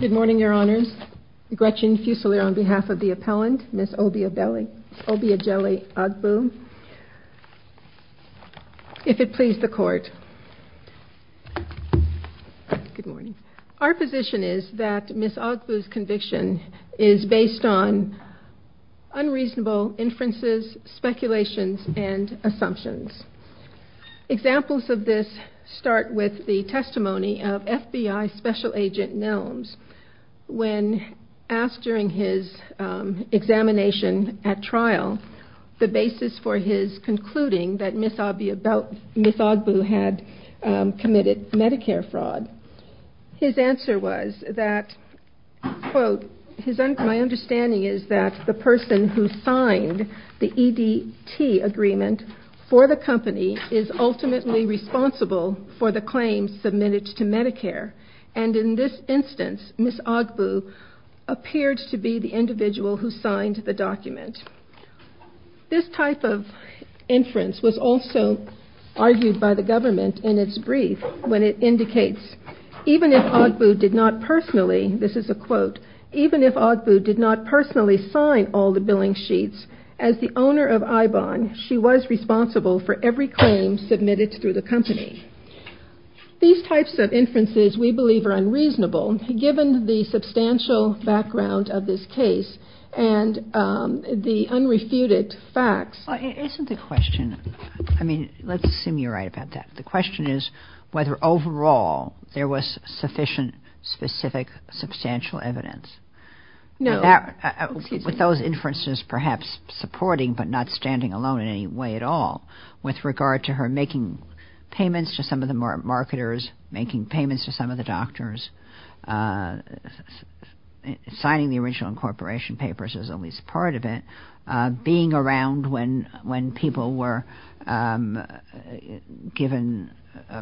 Good morning, your honors. Gretchen Fusilier on behalf of the appellant, Ms. Obiageli Agbu, if it please the court. Our position is that Ms. Agbu's conviction is based on unreasonable inferences, speculations, and assumptions. Examples of this start with the testimony of FBI Special Agent Nelms when asked during his examination at trial the basis for his concluding that Ms. Agbu had committed Medicare fraud. His answer was that, quote, my understanding is that the person who signed the EDT agreement for the company is ultimately responsible for the claims submitted to Medicare. And in this instance, Ms. Agbu appeared to be the individual who signed the document. This type of inference was also argued by the government in its brief when it indicates, even if Agbu did not personally, this is a quote, even if Agbu did not personally sign all the billing sheets, as the owner of IBON, she was responsible for every claim submitted through the company. These types of inferences we believe are unreasonable given the substantial background of this case and the unrefuted facts. Isn't the question, I mean, let's assume you're right about that. The question is whether overall there was sufficient, specific, substantial evidence. No. With those inferences perhaps supporting but not standing alone in any way at all with regard to her making payments to some of the marketers, making payments to some of the doctors, signing the original incorporation papers is at least part of it, being around when people were given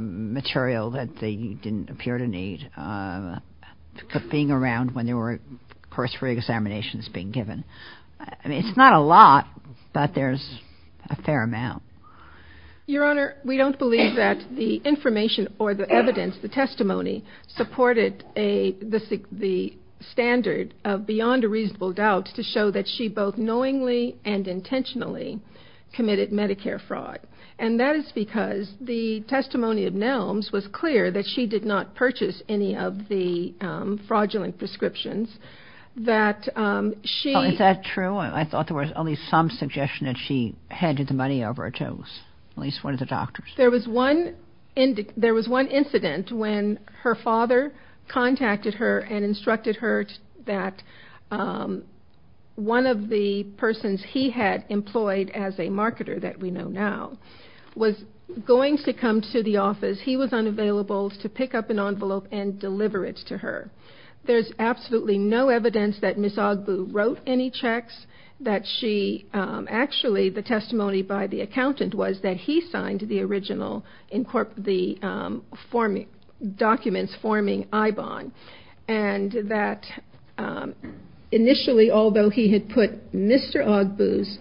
material that they didn't appear to need, being around when there were course re-examinations being given. I mean, it's not a lot, but there's a fair amount. Your Honor, we don't believe that the information or the evidence, the testimony, supported the standard of beyond a reasonable doubt to show that she both knowingly and intentionally committed Medicare fraud. And that is because the testimony of Nelms was clear that she did not purchase any of the fraudulent prescriptions. Is that true? I thought there was at least some suggestion that she handed the money over to at least one of the doctors. There was one incident when her father contacted her and instructed her that one of the persons he had employed as a marketer that we know now was going to come to the office. He was unavailable to pick up an envelope and deliver it to her. There's absolutely no evidence that Ms. Ogbu wrote any checks. Actually, the testimony by the accountant was that he signed the documents forming IBON. And that initially, although he had put Mr. Ogbu's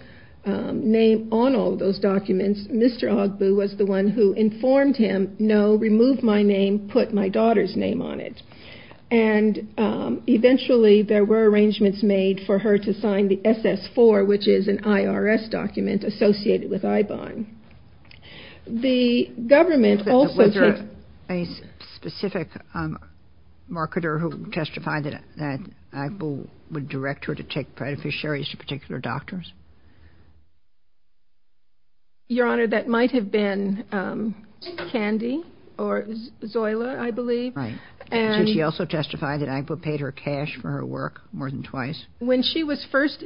name on all those documents, Mr. Ogbu was the one who informed him, no, remove my name, put my daughter's name on it. And eventually, there were arrangements made for her to sign the SS4, which is an IRS document associated with IBON. Was there a specific marketer who testified that Ogbu would direct her to take beneficiaries to particular doctors? Your Honor, that might have been Candy or Zoila, I believe. Right. Did she also testify that Ogbu paid her cash for her work more than twice? When she was first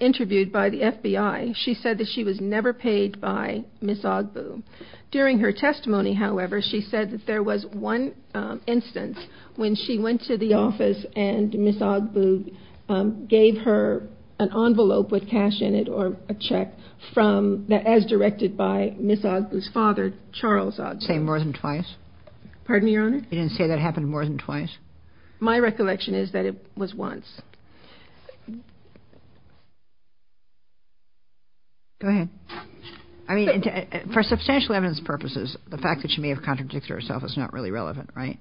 interviewed by the FBI, she said that she was never paid by Ms. Ogbu. During her testimony, however, she said that there was one instance when she went to the office and Ms. Ogbu gave her an envelope with cash in it. Or a check as directed by Ms. Ogbu's father, Charles Ogbu. Say more than twice? Pardon me, Your Honor? You didn't say that happened more than twice? My recollection is that it was once. Go ahead. I mean, for substantial evidence purposes, the fact that she may have contradicted herself is not really relevant, right?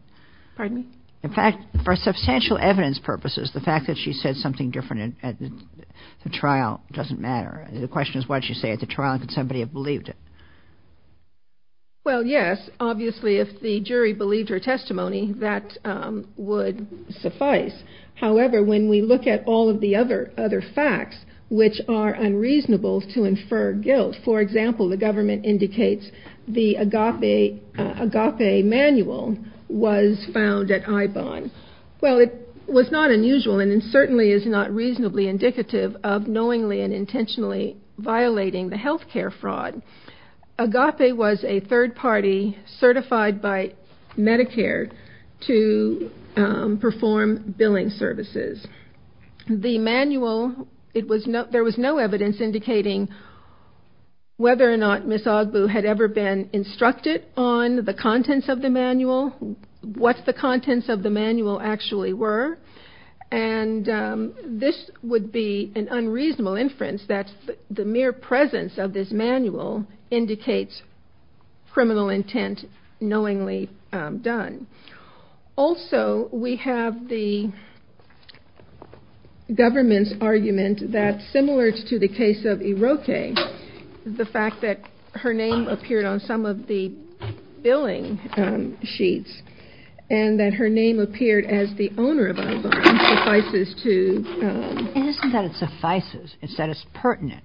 Pardon me? In fact, for substantial evidence purposes, the fact that she said something different at the trial doesn't matter. The question is, what did she say at the trial, and could somebody have believed it? Well, yes. Obviously, if the jury believed her testimony, that would suffice. However, when we look at all of the other facts, which are unreasonable to infer guilt, for example, the government indicates the Agape manual was found at IBON. Well, it was not unusual, and it certainly is not reasonably indicative of knowingly and intentionally violating the health care fraud. Agape was a third party certified by Medicare to perform billing services. The manual, there was no evidence indicating whether or not Ms. Ogbu had ever been instructed on the contents of the manual, what the contents of the manual actually were. And this would be an unreasonable inference that the mere presence of this manual indicates criminal intent knowingly done. Also, we have the government's argument that, similar to the case of Iroque, the fact that her name appeared on some of the billing sheets and that her name appeared as the owner of IBON suffices to... It isn't that it suffices. It's that it's pertinent.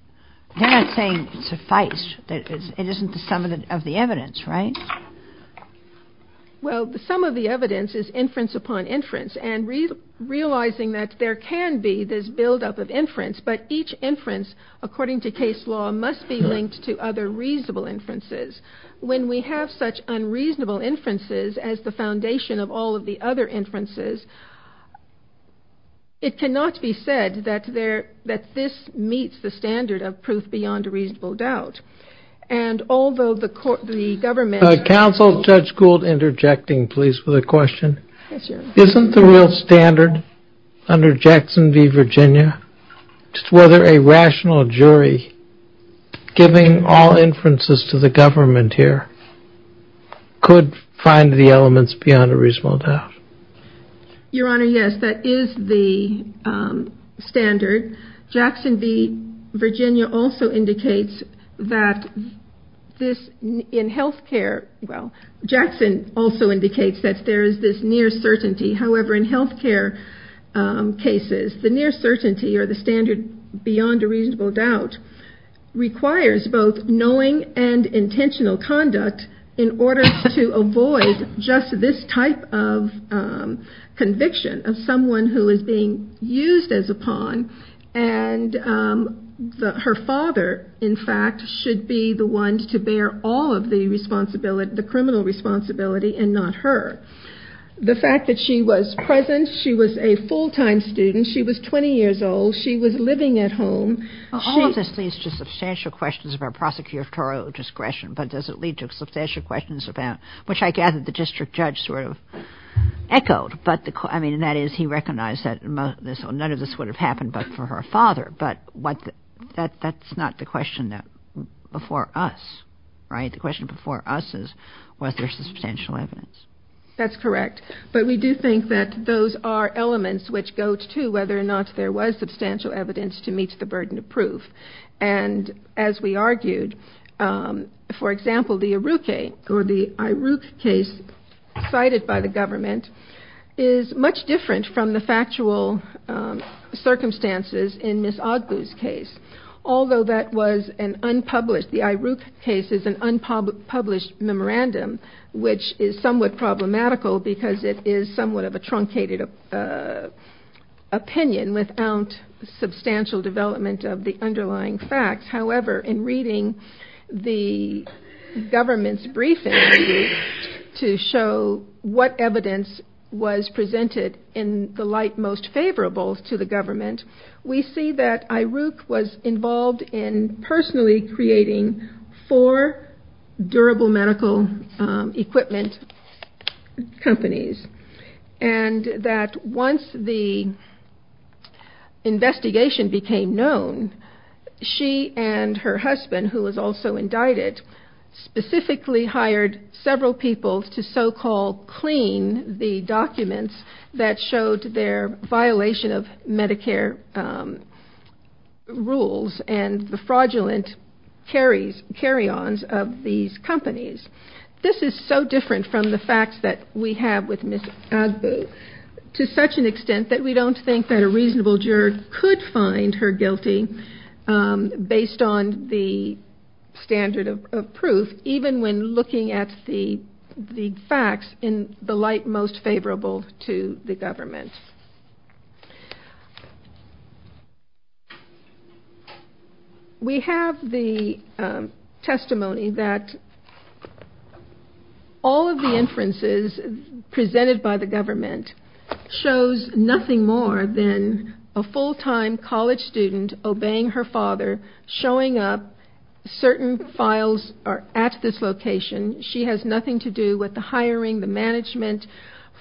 They're not saying suffice. It isn't the sum of the evidence, right? Well, the sum of the evidence is inference upon inference, and realizing that there can be this buildup of inference, but each inference, according to case law, must be linked to other reasonable inferences. When we have such unreasonable inferences as the foundation of all of the other inferences, it cannot be said that this meets the standard of proof beyond a reasonable doubt, and although the government... Counsel, Judge Gould interjecting, please, with a question. Isn't the real standard under Jackson v. Virginia whether a rational jury, giving all inferences to the government here, could find the elements beyond a reasonable doubt? Your Honor, yes, that is the standard. Jackson v. Virginia also indicates that this... In health care, well, Jackson also indicates that there is this near certainty. However, in health care cases, the near certainty or the standard beyond a reasonable doubt requires both knowing and intentional conduct in order to avoid just this type of conviction of someone who is being used as a pawn, and her father, in fact, should be the one to bear all of the criminal responsibility and not her. The fact that she was present, she was a full-time student, she was 20 years old, she was living at home... All of this leads to substantial questions about prosecutorial discretion, but does it lead to substantial questions about... which I gather the district judge sort of echoed, I mean, that is, he recognized that none of this would have happened but for her father, but that's not the question before us, right? The question before us is, was there substantial evidence? That's correct, but we do think that those are elements which go to whether or not there was substantial evidence to meet the burden of proof. And as we argued, for example, the Iruq case cited by the government is much different from the factual circumstances in Ms. Agbu's case, although that was an unpublished... the Iruq case is an unpublished memorandum, which is somewhat problematical because it is somewhat of a truncated opinion without substantial development of the underlying facts. However, in reading the government's briefing to show what evidence was presented in the light most favorable to the government, we see that Iruq was involved in personally creating four durable medical equipment companies, and that once the investigation became known, she and her husband, who was also indicted, specifically hired several people to so-called clean the documents that showed their violation of Medicare rules and the fraudulent carry-ons of these companies. This is so different from the facts that we have with Ms. Agbu, to such an extent that we don't think that a reasonable juror could find her guilty based on the standard of proof, even when looking at the facts in the light most favorable to the government. We have the testimony that all of the inferences presented by the government shows nothing in the light most favorable to the government. There is nothing more than a full-time college student obeying her father, showing up, certain files are at this location. She has nothing to do with the hiring, the management,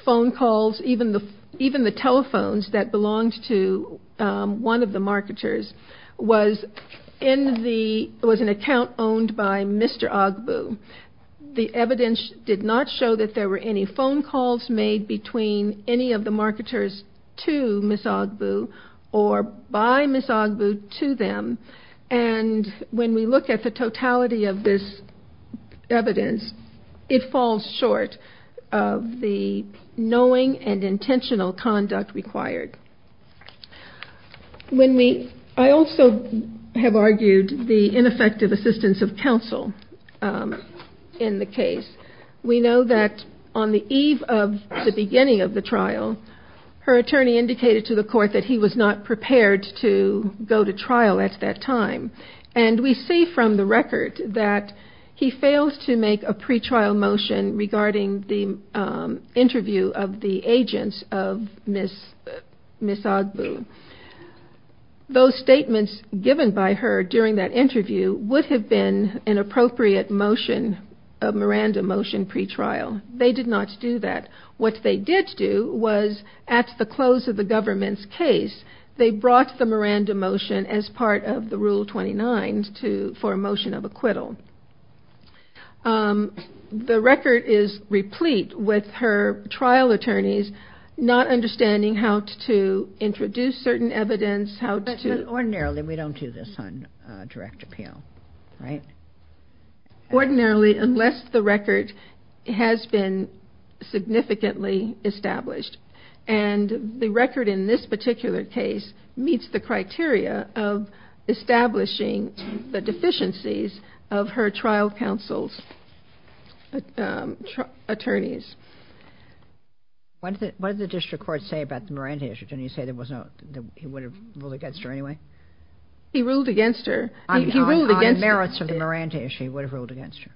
phone calls, even the telephones that belonged to one of the marketers. It was an account owned by Mr. Agbu. The evidence did not show that there were any phone calls made between any of the marketers to Mr. Agbu. And when we look at the totality of this evidence, it falls short of the knowing and intentional conduct required. I also have argued the ineffective assistance of counsel in the case. We know that on the eve of the beginning of the trial, her attorney, Mr. Agbu, indicated to the court that he was not prepared to go to trial at that time. And we see from the record that he failed to make a pre-trial motion regarding the interview of the agents of Ms. Agbu. Those statements given by her during that interview would have been an appropriate motion, a Miranda motion pre-trial. They did not do that. What they did do was, at the close of the government's case, they brought the Miranda motion as part of the Rule 29 for a motion of acquittal. The record is replete with her trial attorneys not understanding how to introduce certain evidence, how to... But ordinarily we don't do this on direct appeal, right? Ordinarily, unless the record has been significantly established. And the record in this particular case meets the criteria of establishing the deficiencies of her trial counsel's attorneys. What did the district court say about the Miranda issue? Didn't he say that he would have ruled against her anyway? He ruled against her. He ruled against... On the merits of the Miranda issue, he would have ruled against her.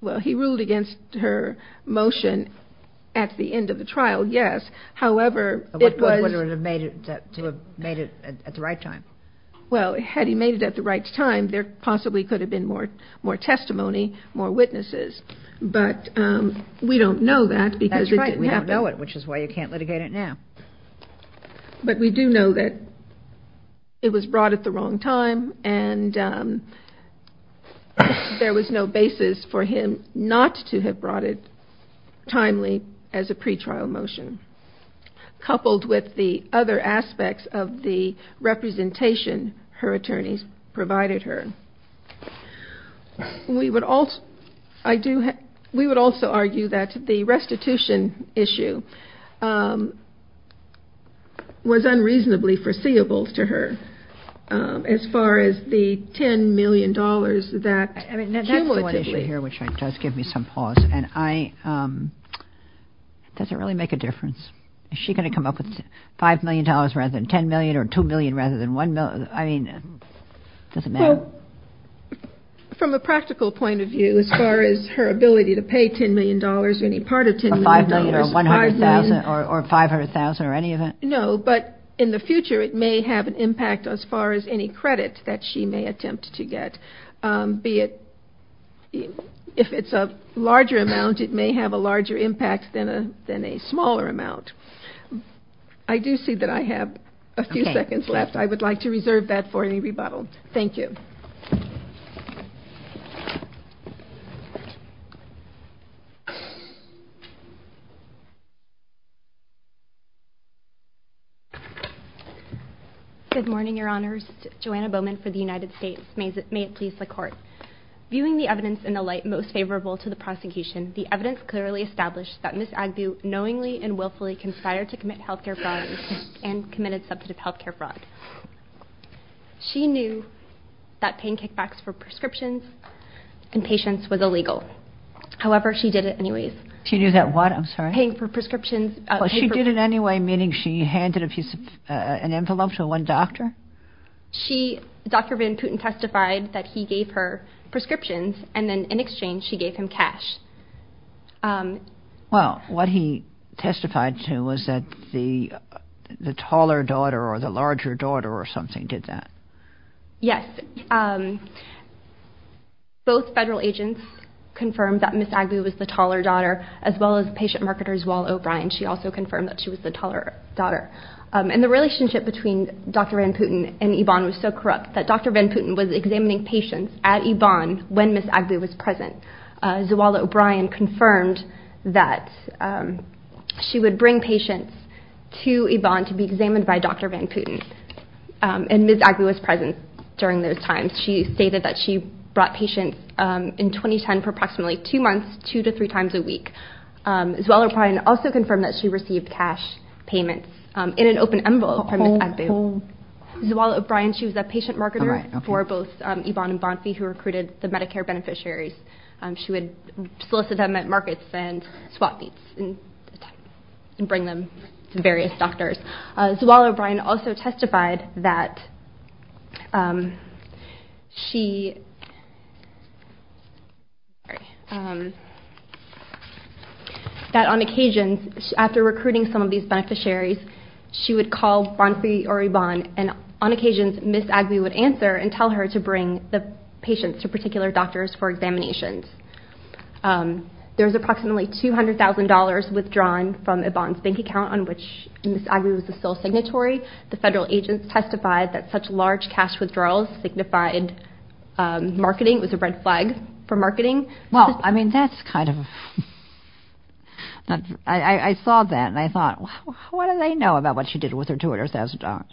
Well, he ruled against her motion at the end of the trial, yes. However, it was... Would have made it at the right time. Well, had he made it at the right time, there possibly could have been more testimony, more witnesses. But we don't know that because it didn't happen. That's right. We don't know it, which is why you can't litigate it now. But we do know that it was brought at the wrong time and there was no basis for him not to have brought it timely as a pretrial motion. Coupled with the other aspects of the representation her attorneys provided her. We would also argue that the restitution issue was unreasonably foreseeable to her as far as the $10 million that... I mean, that's one issue here which does give me some pause. And I... Does it really make a difference? Is she going to come up with $5 million rather than $10 million or $2 million rather than $1 million? I mean, does it matter? Well, from a practical point of view, as far as her ability to pay $10 million or any part of $10 million... $5 million or $100,000 or $500,000 or any of that? No, but in the future, it may have an impact as far as any credit that she may attempt to get, be it... If it's a larger amount, it may have a larger impact than a smaller amount. I do see that I have a few seconds left. I would like to reserve that for any rebuttal. Thank you. Good morning, Your Honors. Joanna Bowman for the United States. May it please the Court. Viewing the evidence in the light most favorable to the prosecution, the evidence clearly established that Ms. Agbu knowingly and willfully conspired to commit health care fraud and committed substantive health care fraud. She knew that paying kickbacks for prescriptions in patients was illegal. However, she did it anyways. She did it anyways, meaning she handed an envelope to one doctor? She... Dr. Van Putten testified that he gave her prescriptions, and then in exchange, she gave him cash. Well, what he testified to was that the taller daughter or the larger daughter or something did that. Yes. Both federal agents confirmed that Ms. Agbu was the taller daughter, as well as patient marketers Wall O'Brien. She also confirmed that she was the taller daughter. And the relationship between Dr. Van Putten and Yvonne was so corrupt that Dr. Van Putten was examining patients at Yvonne when Ms. Agbu was present. Zawala O'Brien confirmed that she would bring patients to Yvonne to be examined by Dr. Van Putten. And Ms. Agbu was present during those times. She stated that she brought patients in 2010 for approximately two months, two to three times a week. Zawala O'Brien also confirmed that she received cash payments in an open envelope from Ms. Agbu. Zawala O'Brien, she was a patient marketer for both Yvonne and Bonfi, who recruited the Medicare beneficiaries. She would solicit them at markets and swap meets and bring them to various doctors. Zawala O'Brien also testified that she, that on occasions, after recruiting some of these beneficiaries, she would call Bonfi or Yvonne, and on occasions Ms. Agbu would answer and tell her to bring the patients to particular doctors for examinations. There was approximately $200,000 withdrawn from Yvonne's bank account on which Ms. Agbu would pay. It was a sole signatory. The federal agents testified that such large cash withdrawals signified marketing. It was a red flag for marketing. Well, I mean, that's kind of, I saw that and I thought, what do they know about what she did with her $200,000?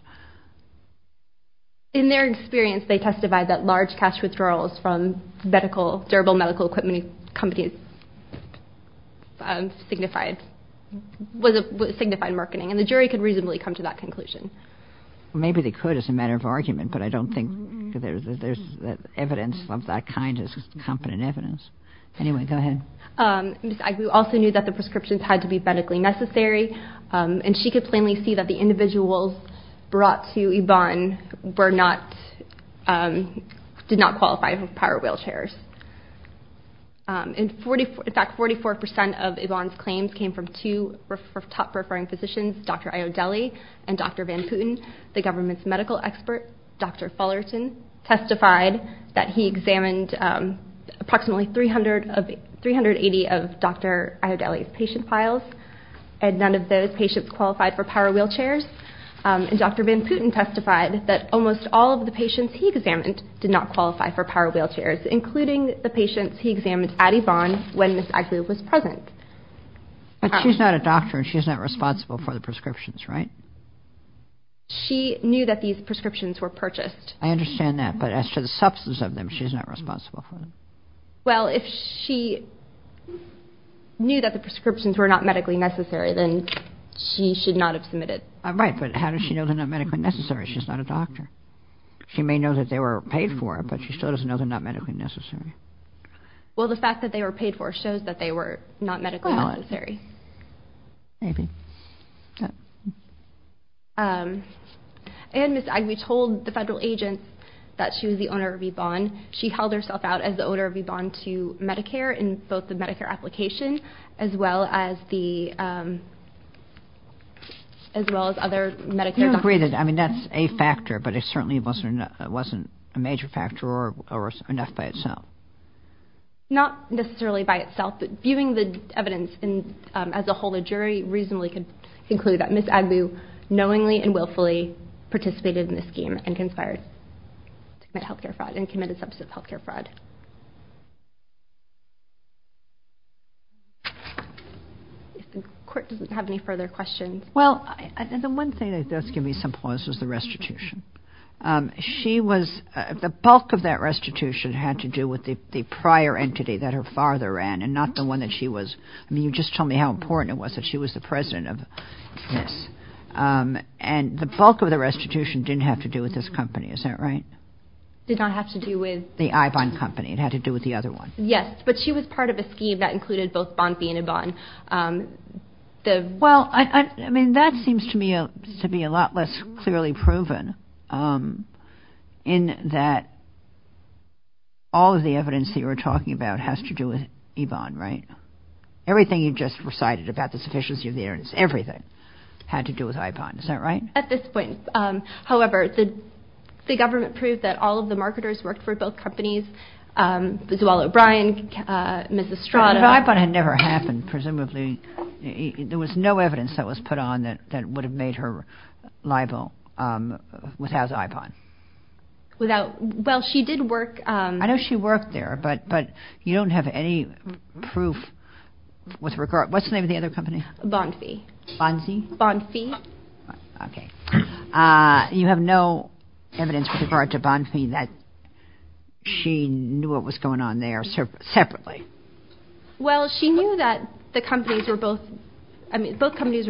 In their experience, they testified that large cash withdrawals from medical, durable medical equipment companies signified marketing, and the jury could reasonably come to that conclusion. Maybe they could as a matter of argument, but I don't think there's evidence of that kind as competent evidence. Anyway, go ahead. Ms. Agbu also knew that the prescriptions had to be medically necessary, and she could plainly see that the individuals brought to Yvonne did not qualify for power wheelchairs. In fact, 44% of Yvonne's claims came from two top referring physicians, Dr. Iodelli and Dr. Van Putten. The government's medical expert, Dr. Fullerton, testified that he examined approximately 380 of Dr. Iodelli's patient files, and none of those patients qualified for power wheelchairs. And Dr. Van Putten testified that almost all of the patients he examined did not qualify for power wheelchairs, including the patients he examined at Yvonne when Ms. Agbu was present. But she's not a doctor, and she's not responsible for the prescriptions, right? She knew that these prescriptions were purchased. I understand that, but as to the substance of them, she's not responsible for them. Well, if she knew that the prescriptions were not medically necessary, then she should not have submitted. Right, but how does she know they're not medically necessary? She's not a doctor. She may know that they were paid for, but she still doesn't know they're not medically necessary. Well, the fact that they were paid for shows that they were not medically necessary. Maybe. And Ms. Agbu told the federal agent that she was the owner of Yvonne. She held herself out as the owner of Yvonne to Medicare in both the Medicare application, as well as other Medicare documents. Agreed. I mean, that's a factor, but it certainly wasn't a major factor or enough by itself. Not necessarily by itself, but viewing the evidence as a whole, a jury reasonably could conclude that Ms. Agbu knowingly and willfully participated in the scheme and conspired to commit health care fraud and committed substance health care fraud. If the Court doesn't have any further questions. Well, the one thing that's given me some pause is the restitution. The bulk of that restitution had to do with the prior entity that her father ran and not the one that she was. I mean, you just told me how important it was that she was the president of this. And the bulk of the restitution didn't have to do with this company. Is that right? Did not have to do with the Yvonne company. It had to do with the other one. Yes, but she was part of a scheme that included both Bonfi and Yvonne. Well, I mean, that seems to me to be a lot less clearly proven in that. All of the evidence you were talking about has to do with Yvonne, right? Everything you just recited about the sufficiency of the evidence, everything had to do with iPod. Is that right? At this point, however, the government proved that all of the marketers worked for both companies. Zoella O'Brien, Miss Estrada. But iPod had never happened, presumably. There was no evidence that was put on that would have made her liable without iPod. Well, she did work. I know she worked there, but you don't have any proof with regard. What's the name of the other company? Bonfi. You have no evidence with regard to Bonfi that she knew what was going on there separately. Well, she knew that the companies were both. Both companies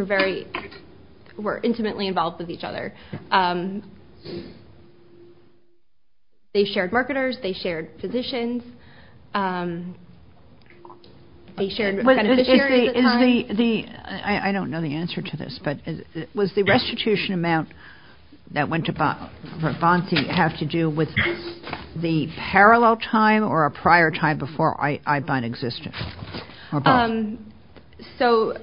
were intimately involved with each other. They shared marketers. They shared physicians. They shared beneficiaries. I don't know the answer to this, but was the restitution amount that went to Bonfi have to do with the parallel time or a prior time before iPod existed? So,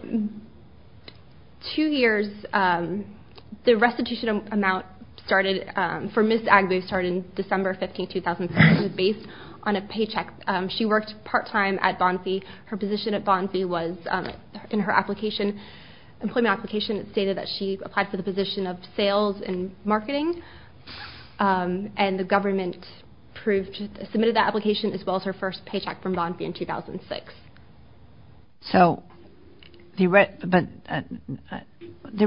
two years. The restitution amount for Miss Agbu started in December 15, 2007. It was based on a paycheck. She worked part-time at Bonfi. Her position at Bonfi was in her employment application. It stated that she applied for the position of sales and marketing. And the government submitted that application as well as her first paycheck from Bonfi in 2006. So, the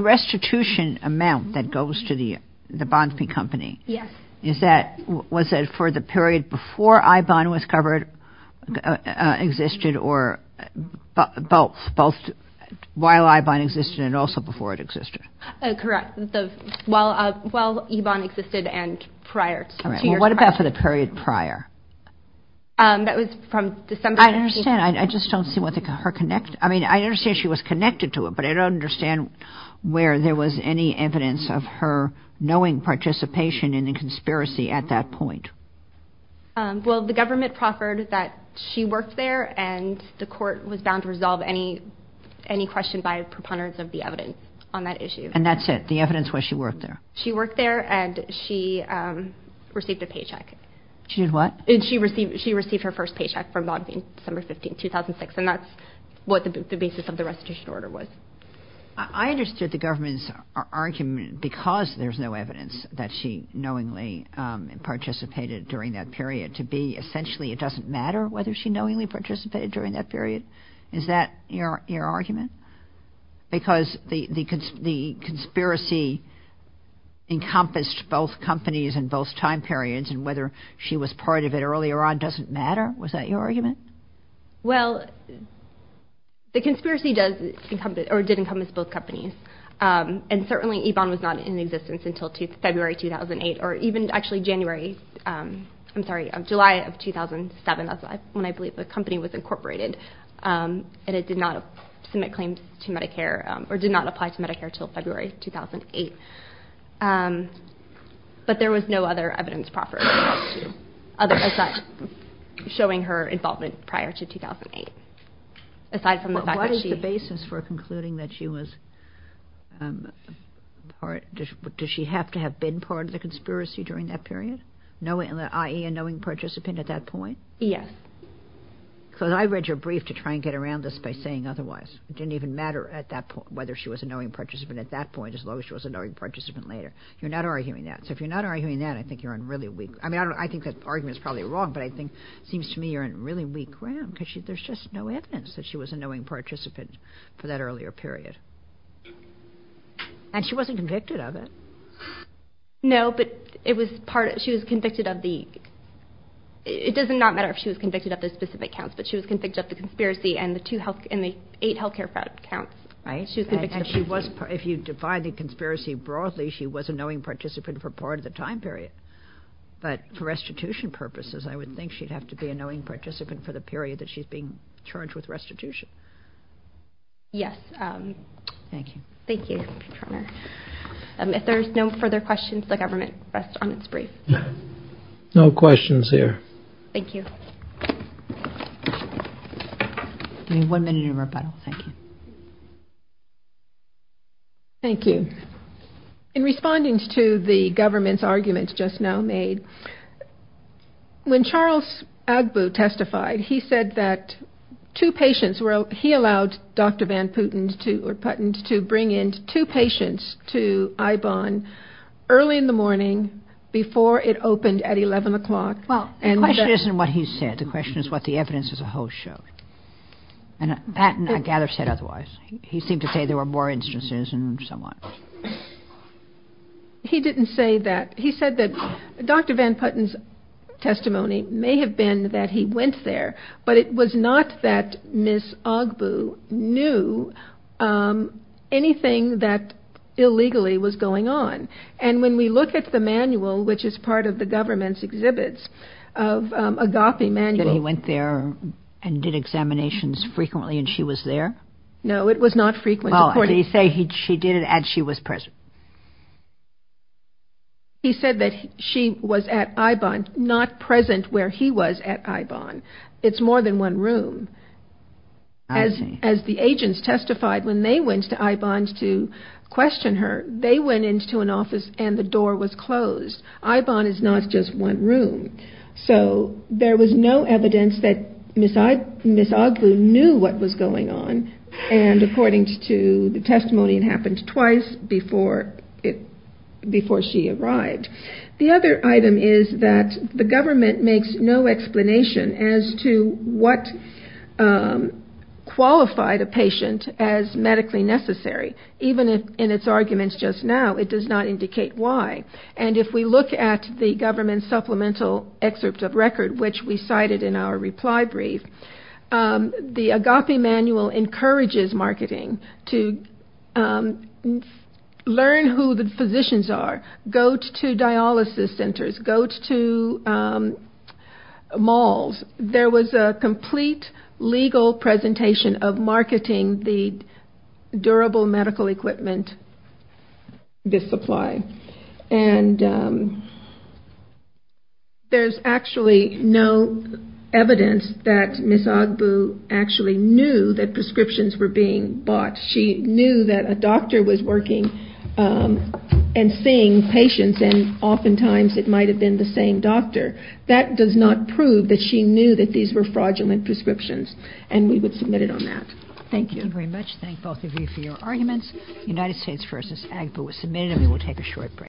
restitution amount that goes to the Bonfi company, was it for the period before iBon existed or both, while iBon existed and also before it existed? Correct. While eBon existed and prior. Well, what about for the period prior? I don't understand. I just don't see her connection. I mean, I understand she was connected to it, but I don't understand where there was any evidence of her knowing participation in the conspiracy at that point. Well, the government proffered that she worked there and the court was bound to resolve any question by a preponderance of the evidence on that issue. And that's it? The evidence was she worked there? She worked there and she received a paycheck. She did what? She received her first paycheck from Bonfi in December 15, 2006. And that's what the basis of the restitution order was. I understood the government's argument, because there's no evidence that she knowingly participated during that period, to be essentially it doesn't matter whether she knowingly participated during that period. Is that your argument? Because the conspiracy encompassed both companies and both time periods and whether she was part of it earlier on doesn't matter? Was that your argument? No, it didn't encompass both companies. And certainly Yvonne was not in existence until February 2008 or even actually January, I'm sorry, July of 2007. That's when I believe the company was incorporated and it did not submit claims to Medicare or did not apply to Medicare until February 2008. But there was no other evidence proffered showing her involvement prior to 2008. What is the basis for concluding that she was part, does she have to have been part of the conspiracy during that period, i.e. a knowing participant at that point? Yes. Because I read your brief to try and get around this by saying otherwise. It didn't even matter at that point whether she was a knowing participant at that point as long as she was a knowing participant later. You're not arguing that. So if you're not arguing that, I think you're on really weak, I mean, I think that argument is probably wrong, but I think it seems to me you're on really weak ground because there's just no evidence that she was a knowing participant for that earlier period, and she wasn't convicted of it. No, but it was part, she was convicted of the, it does not matter if she was convicted of the specific counts, but she was convicted of the conspiracy and the two health, and the eight health care fraud counts. Right, and she was, if you divide the conspiracy broadly, she was a knowing participant for part of the time period, but for restitution purposes, I would think she'd have to be a knowing participant for the period that she's being charged with restitution. Yes. Thank you. If there's no further questions, the government rests on its brief. No questions here. One minute of rebuttal, thank you. Thank you. In responding to the government's arguments just now made, when Charles Agbu testified, he said that two patients were, he allowed Dr. Van Putten to bring in two patients to Ibon early in the morning, before it opened at 11 o'clock. The question isn't what he said, the question is what the evidence as a whole showed, and I gather that said otherwise. He seemed to say there were more instances and so on. He didn't say that. He said that Dr. Van Putten's testimony may have been that he went there, but it was not that Ms. Agbu knew anything that illegally was going on. And when we look at the manual, which is part of the government's exhibits of Agapi manual. He went there and did examinations frequently and she was there? No, it was not frequent. He said that she was at Ibon, not present where he was at Ibon. There was more than one room. As the agents testified when they went to Ibon to question her, they went into an office and the door was closed. Ibon is not just one room. So there was no evidence that Ms. Agbu knew what was going on, and according to the testimony, it happened twice before she arrived. The other item is that the government makes no explanation as to what qualified a patient as medically necessary. Even in its arguments just now, it does not indicate why. And if we look at the government supplemental excerpt of record, which we cited in our reply brief, the Agapi manual encourages marketing to learn who the physicians are. Go to dialysis centers, go to malls. There was a complete legal presentation of marketing the durable medical equipment, the supply. And there's actually no evidence that Ms. Agbu actually knew that prescriptions were being bought. She knew that a doctor was working and seeing patients, and oftentimes it might have been the same doctor. That does not prove that she knew that these were fraudulent prescriptions, and we would submit it on that. Thank you.